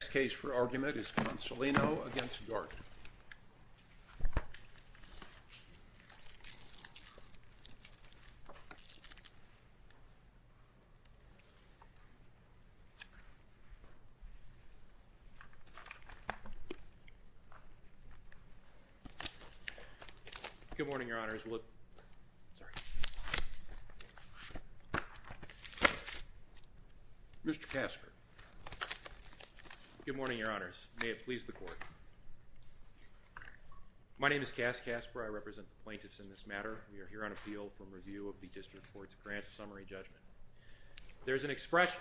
The next case for argument is Consolino v. Dart. Good morning, Your Honors. May it please the Court. My name is Cass Casper. I represent the plaintiffs in this matter. We are here on appeal from review of the District Court's Grant Summary Judgment. There's an expression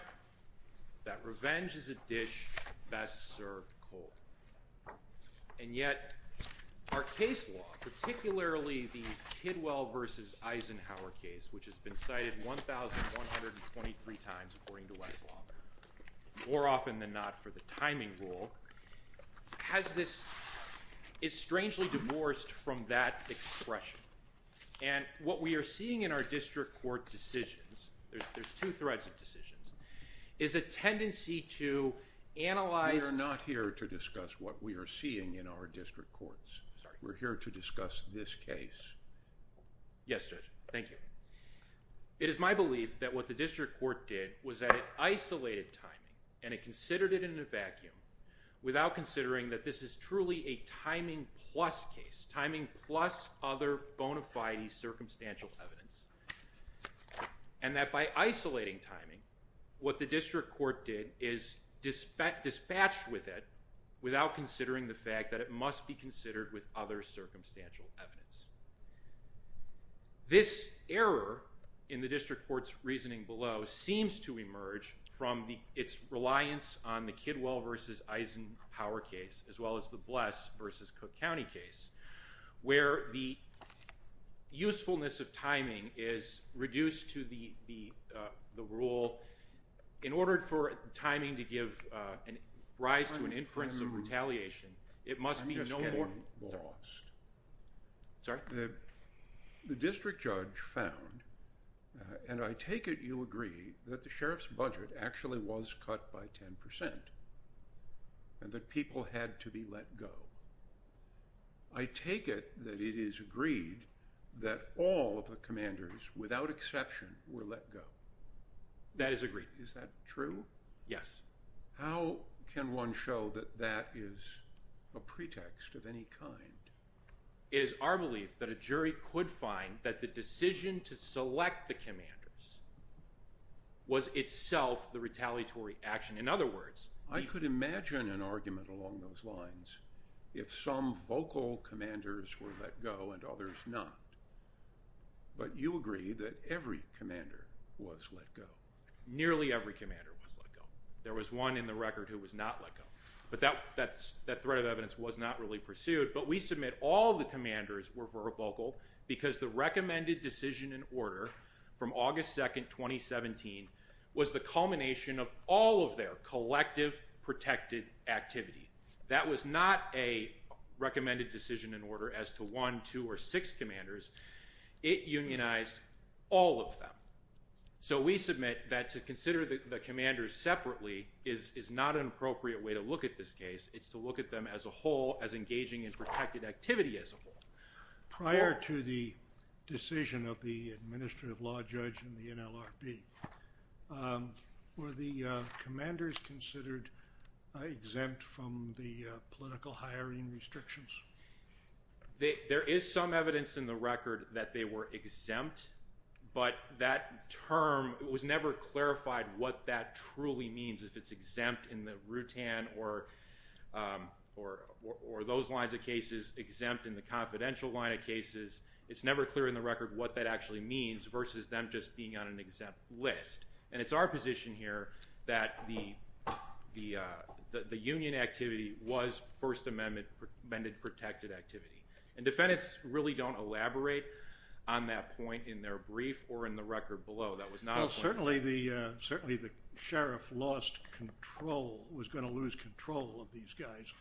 that revenge is a dish best served cold. And yet, our case law, particularly the Kidwell v. Eisenhower case, which has been cited 1,123 times according to Westlaw, more often than not for the timing rule, has this, is strangely divorced from that expression. And what we are seeing in our District Court decisions, there's two threads of decisions, is a tendency to analyze. We are not here to discuss what we are seeing in our District Courts. We're here to discuss this case. Yes, Judge. Thank you. It is my belief that what the District Court did was that it isolated timing and it considered it in a vacuum without considering that this is truly a timing plus case, timing plus other bona fide circumstantial evidence, and that by isolating timing, what the District Court did is dispatch with it without considering the fact that it must be considered with other circumstantial evidence. This error in the District Court's reasoning below seems to emerge from its reliance on the Kidwell v. Eisenhower case, as well as the Bless v. Cook County case, where the usefulness of timing is reduced to the rule. In order for timing to give rise to an inference of retaliation, it must be no more... I'm just getting lost. Sorry? The District Judge found, and I take it you agree, that the Sheriff's budget actually was cut by 10% and that people had to be let go. I take it that it is agreed that all of the commanders, without exception, were let go. That is agreed. Is that true? Yes. How can one show that that is a pretext of any kind? It is our belief that a jury could find that the decision to select the commanders was itself the retaliatory action. I could imagine an argument along those lines if some vocal commanders were let go and others not. But you agree that every commander was let go. Nearly every commander was let go. There was one in the record who was not let go. But that threat of evidence was not really pursued. But we submit all the commanders were vocal because the recommended decision in order from August 2, 2017, was the culmination of all of their collective protected activity. That was not a recommended decision in order as to one, two, or six commanders. It unionized all of them. So we submit that to consider the commanders separately is not an appropriate way to look at this case. It's to look at them as a whole, as engaging in protected activity as a whole. Prior to the decision of the administrative law judge in the NLRB, were the commanders considered exempt from the political hiring restrictions? There is some evidence in the record that they were exempt. But that term was never clarified what that truly means, if it's exempt in the Rutan or those lines of cases, exempt in the confidential line of cases, it's never clear in the record what that actually means versus them just being on an exempt list. And it's our position here that the union activity was First Amendment protected activity. And defendants really don't elaborate on that point in their brief or in the record below. Well, certainly the sheriff lost control, was going to lose control of these guys,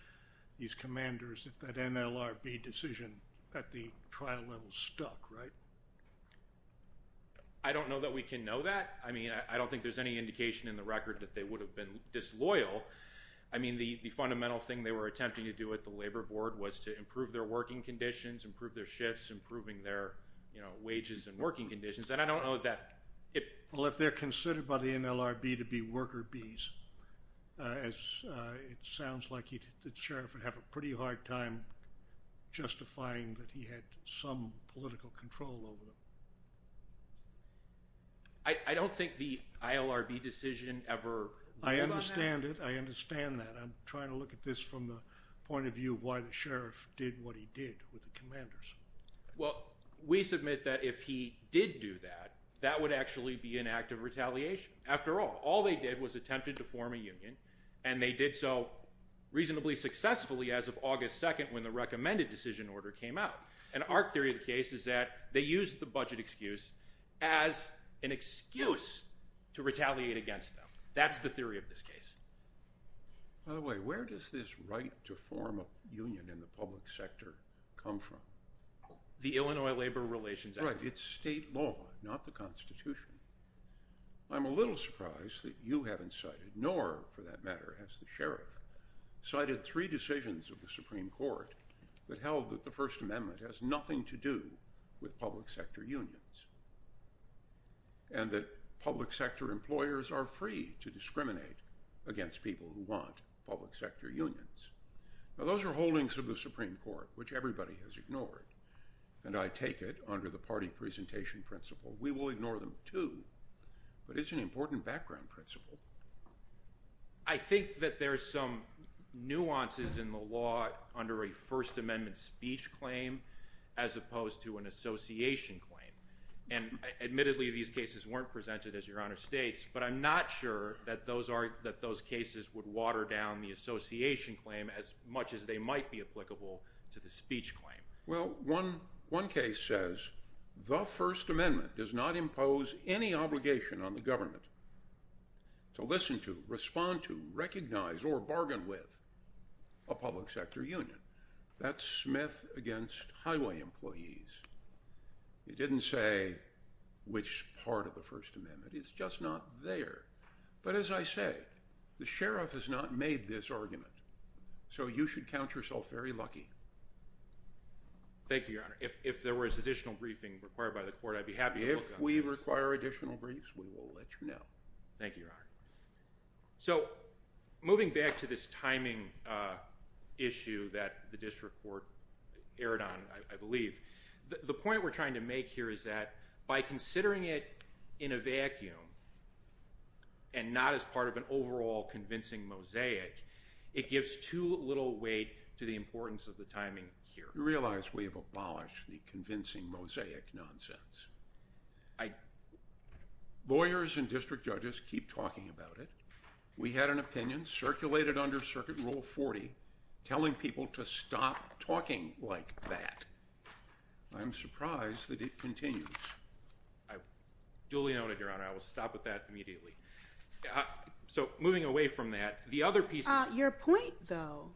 these commanders if that NLRB decision at the trial level stuck, right? I don't know that we can know that. I mean, I don't think there's any indication in the record that they would have been disloyal. I mean, the fundamental thing they were attempting to do at the labor board was to improve their working conditions, improve their shifts, improving their wages and working conditions. And I don't know that it – Well, if they're considered by the NLRB to be worker bees, it sounds like the sheriff would have a pretty hard time justifying that he had some political control over them. I don't think the ILRB decision ever ruled on that. I understand it. I understand that. I'm trying to look at this from the point of view of why the sheriff did what he did with the commanders. Well, we submit that if he did do that, that would actually be an act of retaliation. After all, all they did was attempted to form a union, and they did so reasonably successfully as of August 2nd when the recommended decision order came out. And our theory of the case is that they used the budget excuse as an excuse to retaliate against them. That's the theory of this case. By the way, where does this right to form a union in the public sector come from? The Illinois Labor Relations Act. Right. It's state law, not the Constitution. I'm a little surprised that you haven't cited, nor for that matter has the sheriff, cited three decisions of the Supreme Court that held that the First Amendment has nothing to do with public sector unions and that public sector employers are free to discriminate against people who want public sector unions. Now, those are holdings of the Supreme Court, which everybody has ignored, and I take it under the party presentation principle. We will ignore them, too, but it's an important background principle. I think that there's some nuances in the law under a First Amendment speech claim as opposed to an association claim. Admittedly, these cases weren't presented as your Honor states, but I'm not sure that those cases would water down the association claim as much as they might be applicable to the speech claim. Well, one case says the First Amendment does not impose any obligation on the government to listen to, respond to, recognize, or bargain with a public sector union. That's Smith against highway employees. It didn't say which part of the First Amendment. It's just not there. But as I say, the sheriff has not made this argument, so you should count yourself very lucky. Thank you, Your Honor. If there was additional briefing required by the court, I'd be happy to look on this. If we require additional briefs, we will let you know. Thank you, Your Honor. So moving back to this timing issue that the district court erred on, I believe, the point we're trying to make here is that by considering it in a vacuum and not as part of an overall convincing mosaic, it gives too little weight to the importance of the timing here. You realize we have abolished the convincing mosaic nonsense. Lawyers and district judges keep talking about it. We had an opinion circulated under Circuit Rule 40 telling people to stop talking like that. I'm surprised that it continues. I duly note it, Your Honor. I will stop with that immediately. So moving away from that, the other piece is— Your point, though,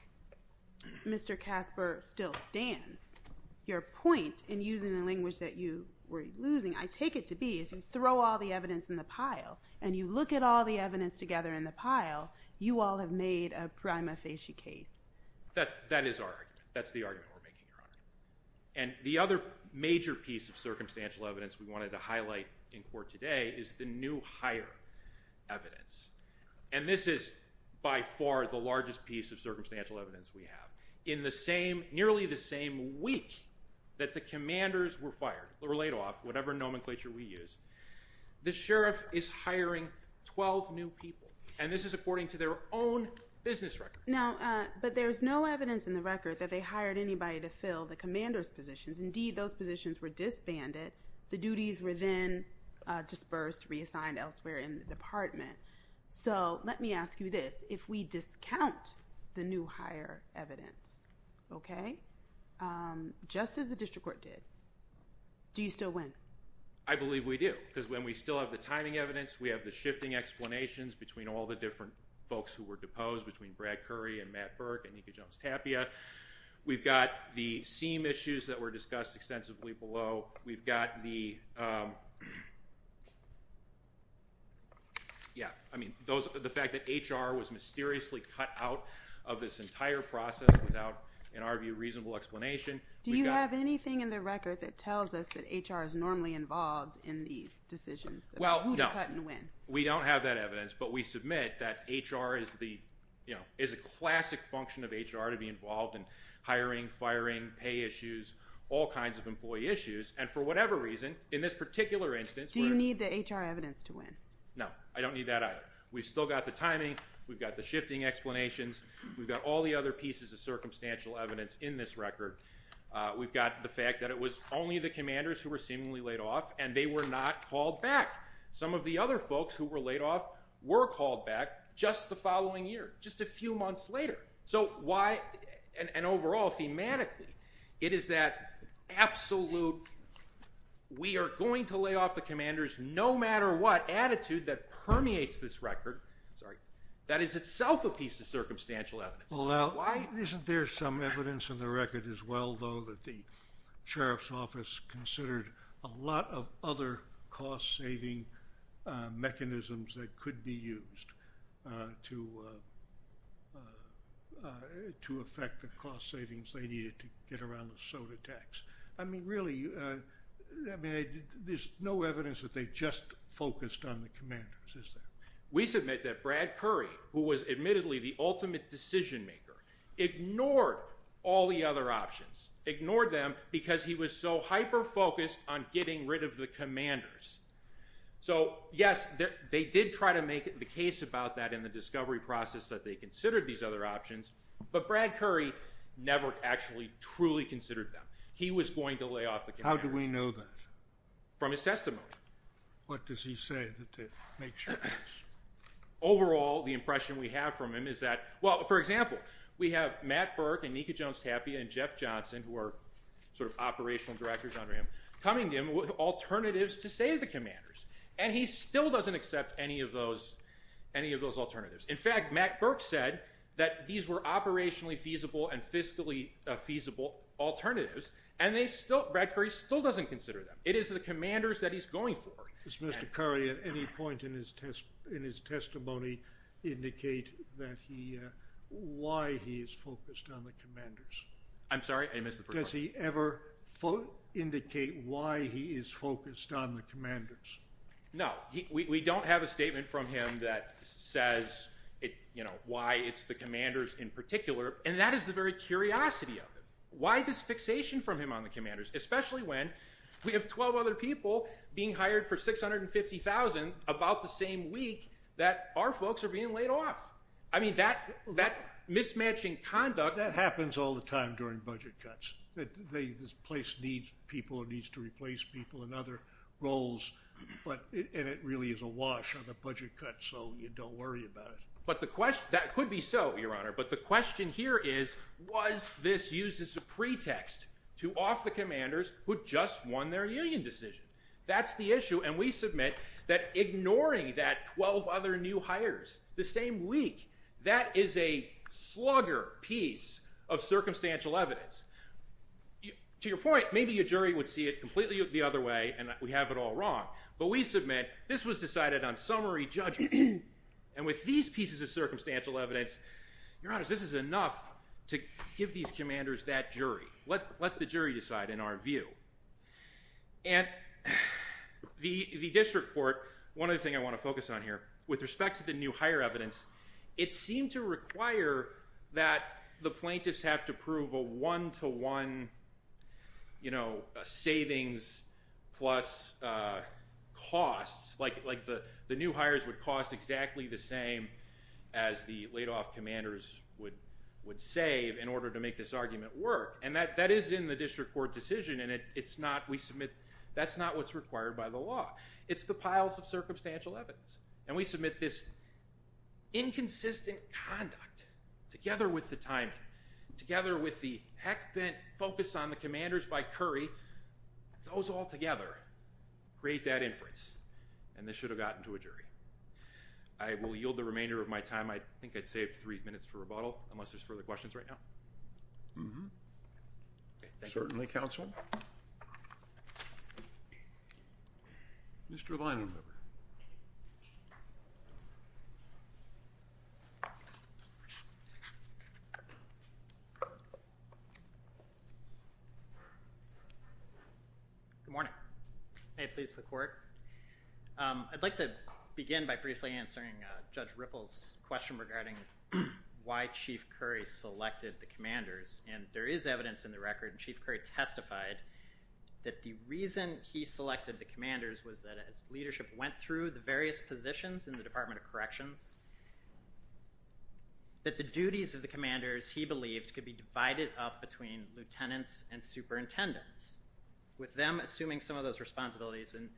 Mr. Casper, still stands. Your point in using the language that you were losing, I take it to be, as you throw all the evidence in the pile and you look at all the evidence together in the pile, you all have made a prima facie case. That is our argument. That's the argument we're making, Your Honor. And the other major piece of circumstantial evidence we wanted to highlight in court today is the new higher evidence. And this is by far the largest piece of circumstantial evidence we have. In the same—nearly the same week that the commanders were fired or laid off, whatever nomenclature we use, the sheriff is hiring 12 new people, and this is according to their own business record. Now, but there's no evidence in the record that they hired anybody to fill the commander's positions. Indeed, those positions were disbanded. The duties were then dispersed, reassigned elsewhere in the department. So let me ask you this. If we discount the new higher evidence, okay, just as the district court did, do you still win? I believe we do because when we still have the timing evidence, we have the shifting explanations between all the different folks who were deposed, between Brad Curry and Matt Burke and Nika Jones-Tapia. We've got the seem issues that were discussed extensively below. We've got the—yeah, I mean, the fact that HR was mysteriously cut out of this entire process without, in our view, reasonable explanation. Do you have anything in the record that tells us that HR is normally involved in these decisions? Well, no. Who cut and when? We don't have that evidence, but we submit that HR is the— is a classic function of HR to be involved in hiring, firing, pay issues, all kinds of employee issues, and for whatever reason, in this particular instance— Do you need the HR evidence to win? No, I don't need that either. We've still got the timing. We've got the shifting explanations. We've got all the other pieces of circumstantial evidence in this record. We've got the fact that it was only the commanders who were seemingly laid off, and they were not called back. Some of the other folks who were laid off were called back just the following year, just a few months later. And overall, thematically, it is that absolute, we are going to lay off the commanders no matter what attitude that permeates this record that is itself a piece of circumstantial evidence. Isn't there some evidence in the record as well, though, that the sheriff's office considered a lot of other cost-saving mechanisms that could be used to affect the cost savings they needed to get around the soda tax? I mean, really, there's no evidence that they just focused on the commanders, is there? We submit that Brad Curry, who was admittedly the ultimate decision-maker, ignored all the other options, ignored them because he was so hyper-focused on getting rid of the commanders. So, yes, they did try to make the case about that in the discovery process that they considered these other options, but Brad Curry never actually truly considered them. He was going to lay off the commanders. How do we know that? From his testimony. What does he say to make sure of this? Overall, the impression we have from him is that, well, for example, we have Matt Burke and Nika Jones-Tapia and Jeff Johnson, who are sort of operational directors under him, coming to him with alternatives to save the commanders, and he still doesn't accept any of those alternatives. In fact, Matt Burke said that these were operationally feasible and fiscally feasible alternatives, and Brad Curry still doesn't consider them. It is the commanders that he's going for. Does Mr. Curry at any point in his testimony indicate why he is focused on the commanders? I'm sorry, I missed the first part. Does he ever indicate why he is focused on the commanders? No. We don't have a statement from him that says why it's the commanders in particular, and that is the very curiosity of it. Why this fixation from him on the commanders, especially when we have 12 other people being hired for $650,000 about the same week that our folks are being laid off? I mean, that mismatching conduct. That happens all the time during budget cuts. This place needs people. It needs to replace people in other roles, and it really is a wash on the budget cuts, so you don't worry about it. That could be so, Your Honor, but the question here is was this used as a pretext to off the commanders who just won their union decision? That's the issue, and we submit that ignoring that 12 other new hires the same week, that is a slugger piece of circumstantial evidence. To your point, maybe a jury would see it completely the other way and we have it all wrong, but we submit this was decided on summary judgment, and with these pieces of circumstantial evidence, Your Honor, this is enough to give these commanders that jury. Let the jury decide in our view. And the district court, one other thing I want to focus on here, with respect to the new hire evidence, it seemed to require that the plaintiffs have to prove a one-to-one savings plus costs, like the new hires would cost exactly the same as the laid off commanders would save in order to make this argument work, and that is in the district court decision, and that's not what's required by the law. It's the piles of circumstantial evidence, and we submit this inconsistent conduct together with the timing, together with the heck-bent focus on the commanders by Curry, those all together create that inference, and this should have gotten to a jury. I will yield the remainder of my time. I think I saved three minutes for rebuttal unless there's further questions right now. Certainly, counsel. Mr. Leinenweber. Good morning. May it please the court. I'd like to begin by briefly answering Judge Ripple's question regarding why Chief Curry selected the commanders, and there is evidence in the record that Chief Curry testified that the reason he selected the commanders was that as leadership went through the various positions in the Department of Corrections, that the duties of the commanders, he believed, could be divided up between lieutenants and superintendents, with them assuming some of those responsibilities and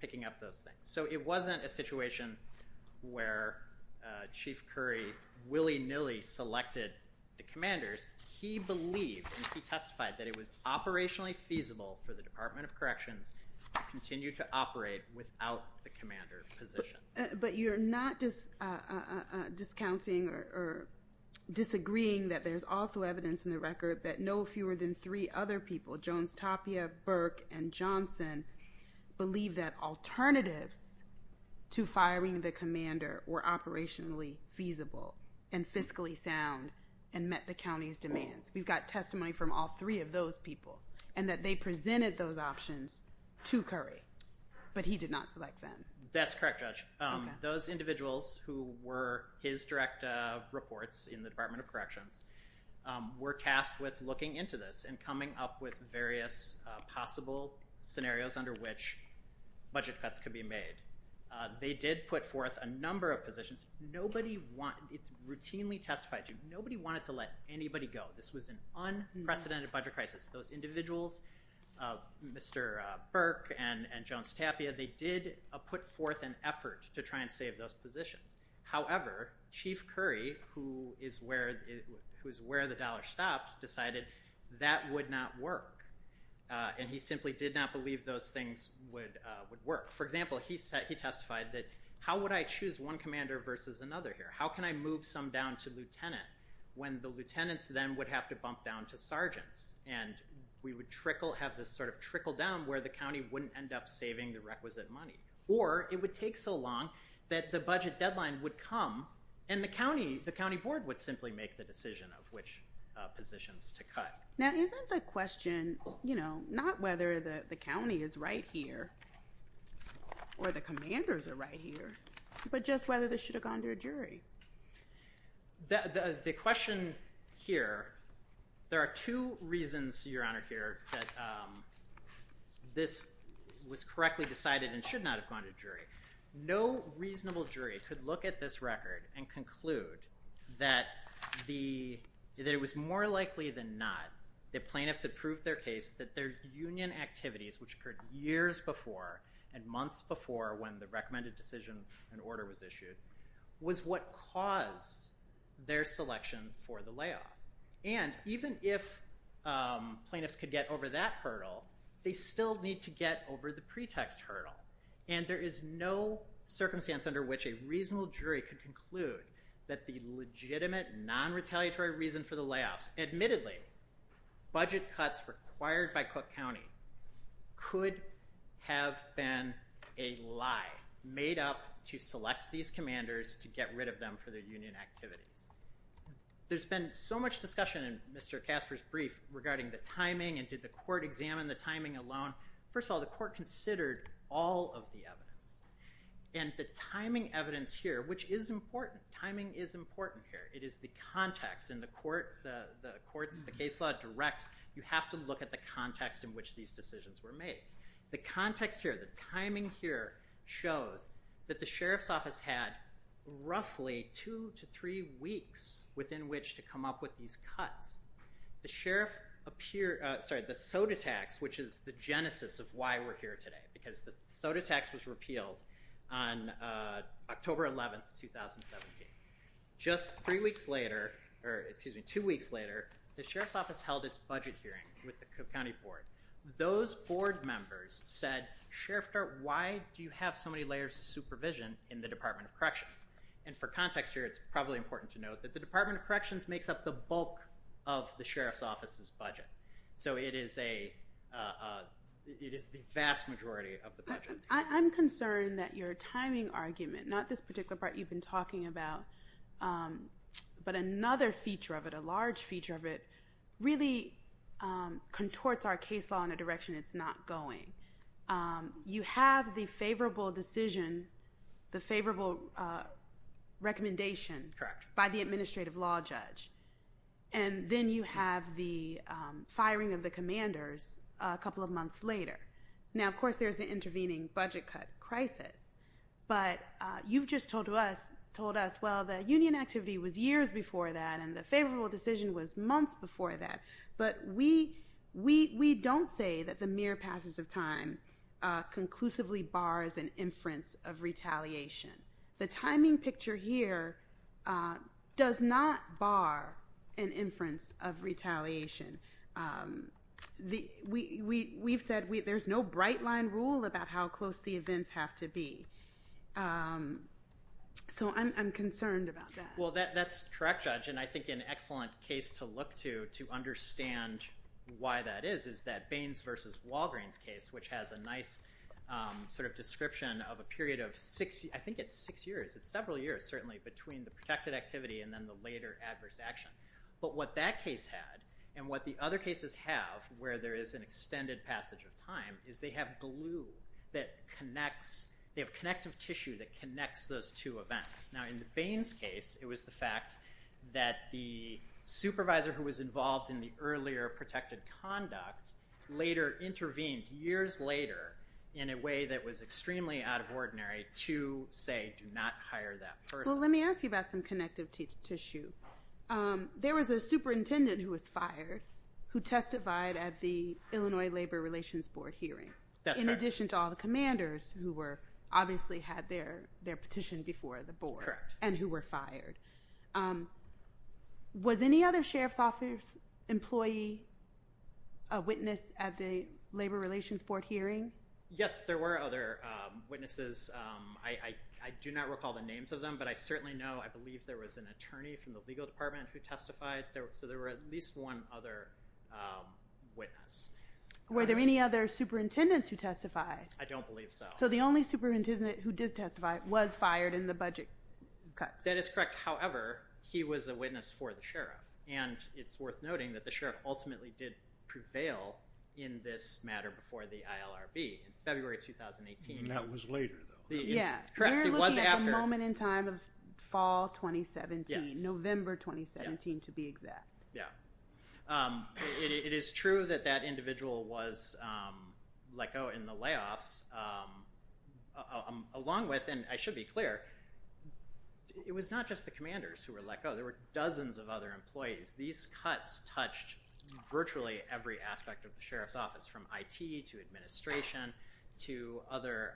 picking up those things. So it wasn't a situation where Chief Curry willy-nilly selected the commanders. He believed and he testified that it was operationally feasible for the Department of Corrections to continue to operate without the commander position. But you're not discounting or disagreeing that there's also evidence in the record that no fewer than three other people, Jones, Tapia, Burke, and Johnson, believe that alternatives to firing the commander were operationally feasible and fiscally sound and met the county's demands. We've got testimony from all three of those people, and that they presented those options to Curry, but he did not select them. That's correct, Judge. Those individuals who were his direct reports in the Department of Corrections were tasked with looking into this and coming up with various possible scenarios under which budget cuts could be made. They did put forth a number of positions. It's routinely testified to, nobody wanted to let anybody go. This was an unprecedented budget crisis. Those individuals, Mr. Burke and Jones Tapia, they did put forth an effort to try and save those positions. However, Chief Curry, who is where the dollar stopped, decided that would not work, and he simply did not believe those things would work. For example, he testified that, how would I choose one commander versus another here? How can I move some down to lieutenant when the lieutenants then would have to bump down to sergeants, and we would have this sort of trickle down where the county wouldn't end up saving the requisite money? Or it would take so long that the budget deadline would come, and the county board would simply make the decision of which positions to cut. Now, isn't the question, you know, not whether the county is right here or the commanders are right here, but just whether this should have gone to a jury? I'm going to point out here that this was correctly decided and should not have gone to a jury. No reasonable jury could look at this record and conclude that it was more likely than not that plaintiffs had proved their case that their union activities, which occurred years before and months before when the recommended decision and order was issued, was what caused their selection for the layoff. And even if plaintiffs could get over that hurdle, they still need to get over the pretext hurdle. And there is no circumstance under which a reasonable jury could conclude that the legitimate non-retaliatory reason for the layoffs, admittedly budget cuts required by Cook County, could have been a lie made up to select these commanders to get rid of them for their union activities. There's been so much discussion in Mr. Casper's brief regarding the timing and did the court examine the timing alone. First of all, the court considered all of the evidence. And the timing evidence here, which is important, timing is important here. It is the context in the court, the courts, the case law directs you have to look at the context in which these decisions were made. The context here, the timing here, shows that the sheriff's office had roughly two to three weeks within which to come up with these cuts. The sheriff appeared, sorry, the soda tax, which is the genesis of why we're here today, because the soda tax was repealed on October 11th, 2017. Just three weeks later, or excuse me, two weeks later, the sheriff's office held its budget hearing with the Cook County board. Those board members said, sheriff, why do you have so many layers of supervision in the Department of Corrections? And for context here, it's probably important to note that the Department of Corrections makes up the bulk of the sheriff's office's budget. So it is the vast majority of the budget. I'm concerned that your timing argument, not this particular part you've been talking about, but another feature of it, a large feature of it, really contorts our case law in a direction it's not going. You have the favorable decision, the favorable recommendation by the administrative law judge, and then you have the firing of the commanders a couple of months later. Now, of course, there's an intervening budget cut crisis, but you've just told us, well, the union activity was years before that and the favorable decision was months before that. But we don't say that the mere passage of time conclusively bars an inference of retaliation. The timing picture here does not bar an inference of retaliation. We've said there's no bright-line rule about how close the events have to be. So I'm concerned about that. Well, that's correct, Judge, and I think an excellent case to look to to understand why that is is that Baines v. Walgreens case, which has a nice sort of description of a period of six, I think it's six years, it's several years certainly, between the protected activity and then the later adverse action. But what that case had and what the other cases have, where there is an extended passage of time, is they have glue that connects, they have connective tissue that connects those two events. Now, in the Baines case, it was the fact that the supervisor who was involved in the earlier protected conduct later intervened, years later, in a way that was extremely out of ordinary to say, do not hire that person. Well, let me ask you about some connective tissue. There was a superintendent who was fired who testified at the Illinois Labor Relations Board hearing. That's correct. In addition to all the commanders who obviously had their petition before the board. Correct. And who were fired. Was any other sheriff's office employee a witness at the Labor Relations Board hearing? Yes, there were other witnesses. I do not recall the names of them, but I certainly know, I believe there was an attorney from the legal department who testified. So there were at least one other witness. Were there any other superintendents who testified? I don't believe so. So the only superintendent who did testify was fired in the budget cuts. That is correct. However, he was a witness for the sheriff. And it's worth noting that the sheriff ultimately did prevail in this matter before the ILRB in February 2018. And that was later though. Yeah. We're looking at the moment in time of fall 2017, November 2017 to be exact. Yeah. It is true that that individual was like, he was fired. But there were other staff cutoffs along with, and I should be clear, it was not just the commanders who were let go. There were dozens of other employees. These cuts touched virtually every aspect of the sheriff's office, from IT to administration to other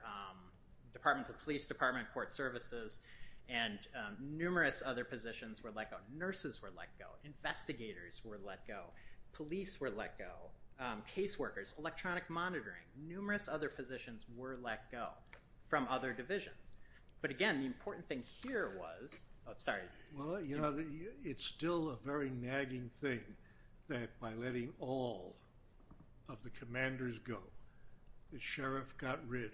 departments, the police department, court services, and numerous other positions were let go. Nurses were let go. Investigators were let go. Police were let go. Caseworkers, electronic monitoring, numerous other positions were let go from other divisions. But again, the important thing here was, oh, sorry. Well, you know, it's still a very nagging thing that by letting all of the commanders go, the sheriff got rid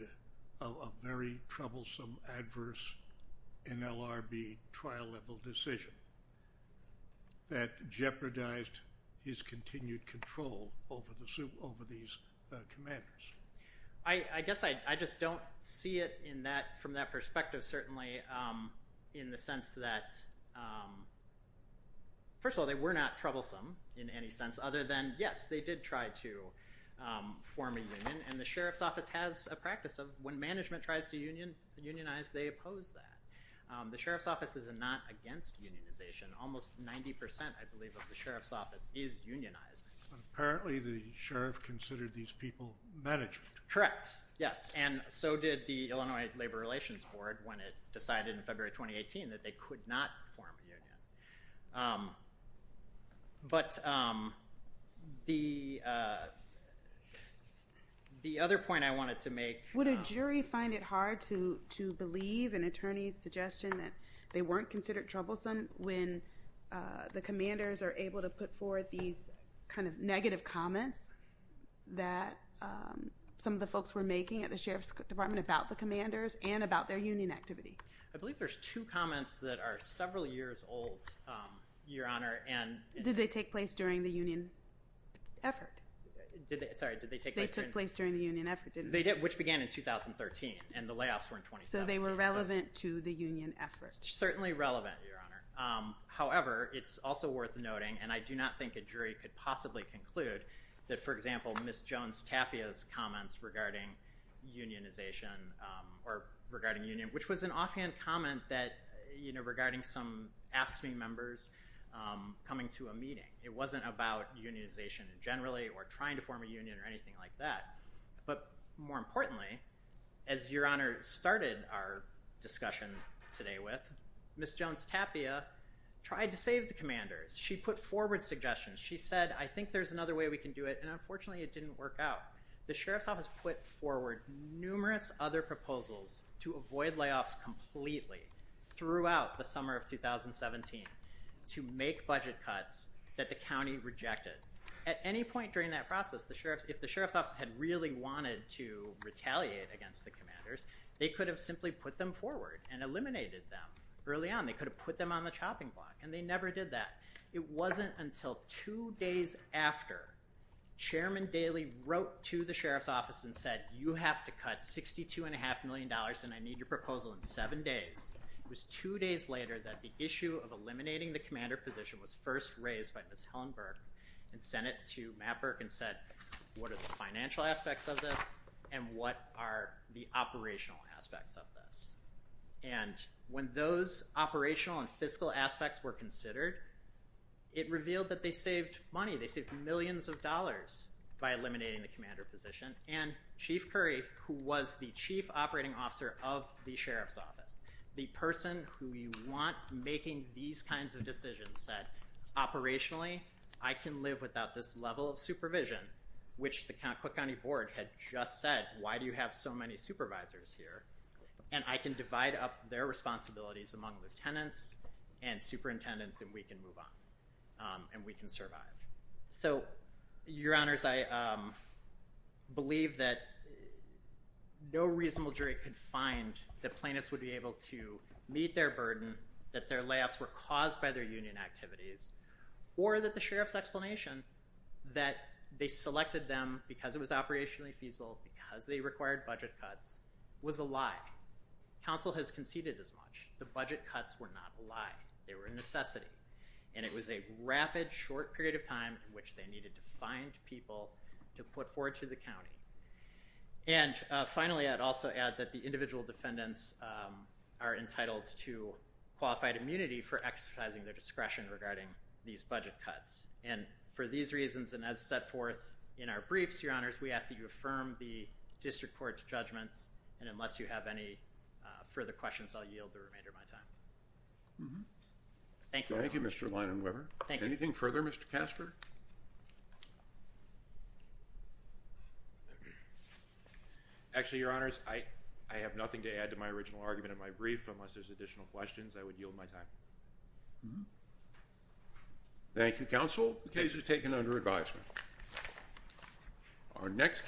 of a very troublesome, adverse NLRB trial level decision that jeopardized his continued control over these commanders. I guess I just don't see it from that perspective, certainly in the sense that, first of all, they were not troublesome in any sense other than, yes, they did try to form a union, and the sheriff's office has a practice of when management tries to unionize, they oppose that. The sheriff's office is not against unionization. Almost 90%, I believe, of the sheriff's office is unionized. Apparently the sheriff considered these people management. Correct, yes. And so did the Illinois Labor Relations Board when it decided in February 2018 that they could not form a union. But the other point I wanted to make- Would a jury find it hard to believe an attorney's suggestion that they weren't considered troublesome when the commanders are able to put forward these kind of negative comments that some of the folks were making at the sheriff's department about the commanders and about their union activity? I believe there's two comments that are several years old, Your Honor. Did they take place during the union effort? Sorry, did they take place during- They took place during the union effort, didn't they? They did, which began in 2013, and the layoffs were in 2017. So they were relevant to the union effort. Certainly relevant, Your Honor. However, it's also worth noting, and I do not think a jury could possibly conclude, that, for example, Ms. Jones-Tapia's comments regarding unionization or regarding union, which was an offhand comment regarding some AFSCME members coming to a meeting. It wasn't about unionization generally or trying to form a union or anything like that. But more importantly, as Your Honor started our discussion today with, Ms. Jones-Tapia tried to save the commanders. She put forward suggestions. She said, I think there's another way we can do it, and unfortunately it didn't work out. The sheriff's office put forward numerous other proposals to avoid layoffs completely throughout the summer of 2017 to make budget cuts that the county rejected. At any point during that process, if the sheriff's office had really wanted to retaliate against the commanders, they could have simply put them forward and eliminated them early on. They could have put them on the chopping block, and they never did that. It wasn't until two days after Chairman Daley wrote to the sheriff's office and said, you have to cut $62.5 million, and I need your proposal in seven days. It was two days later that the issue of eliminating the commander position was first raised by Ms. Helen Burke and sent it to Matt Burke and said, what are the financial aspects of this, and what are the operational aspects of this? And when those operational and fiscal aspects were considered, it revealed that they saved money. They saved millions of dollars by eliminating the commander position. And Chief Curry, who was the chief operating officer of the sheriff's office, the person who you want making these kinds of decisions, said, operationally, I can live without this level of supervision, which the Cook County Board had just said, why do you have so many supervisors here? And I can divide up their responsibilities among lieutenants and superintendents, and we can move on, and we can survive. So, your honors, I believe that no reasonable jury could find that plaintiffs would be able to meet their burden, that their layoffs were caused by their union activities, or that the sheriff's explanation that they selected them because it was operationally feasible, because they required budget cuts, was a lie. Council has conceded as much. The budget cuts were not a lie. They were a necessity, and it was a rapid, short period of time in which they needed to find people to put forward to the county. And finally, I'd also add that the individual defendants are entitled to qualified immunity for exercising their discretion regarding these budget cuts. And for these reasons, and as set forth in our briefs, your honors, we ask that you affirm the district court's judgments, and unless you have any further questions, I'll yield the remainder of my time. Thank you. Thank you, Mr. Leinenweber. Anything further, Mr. Casper? Actually, your honors, I have nothing to add to my original argument in my brief, but unless there's additional questions, I would yield my time. Thank you, counsel. The case is taken under advisement.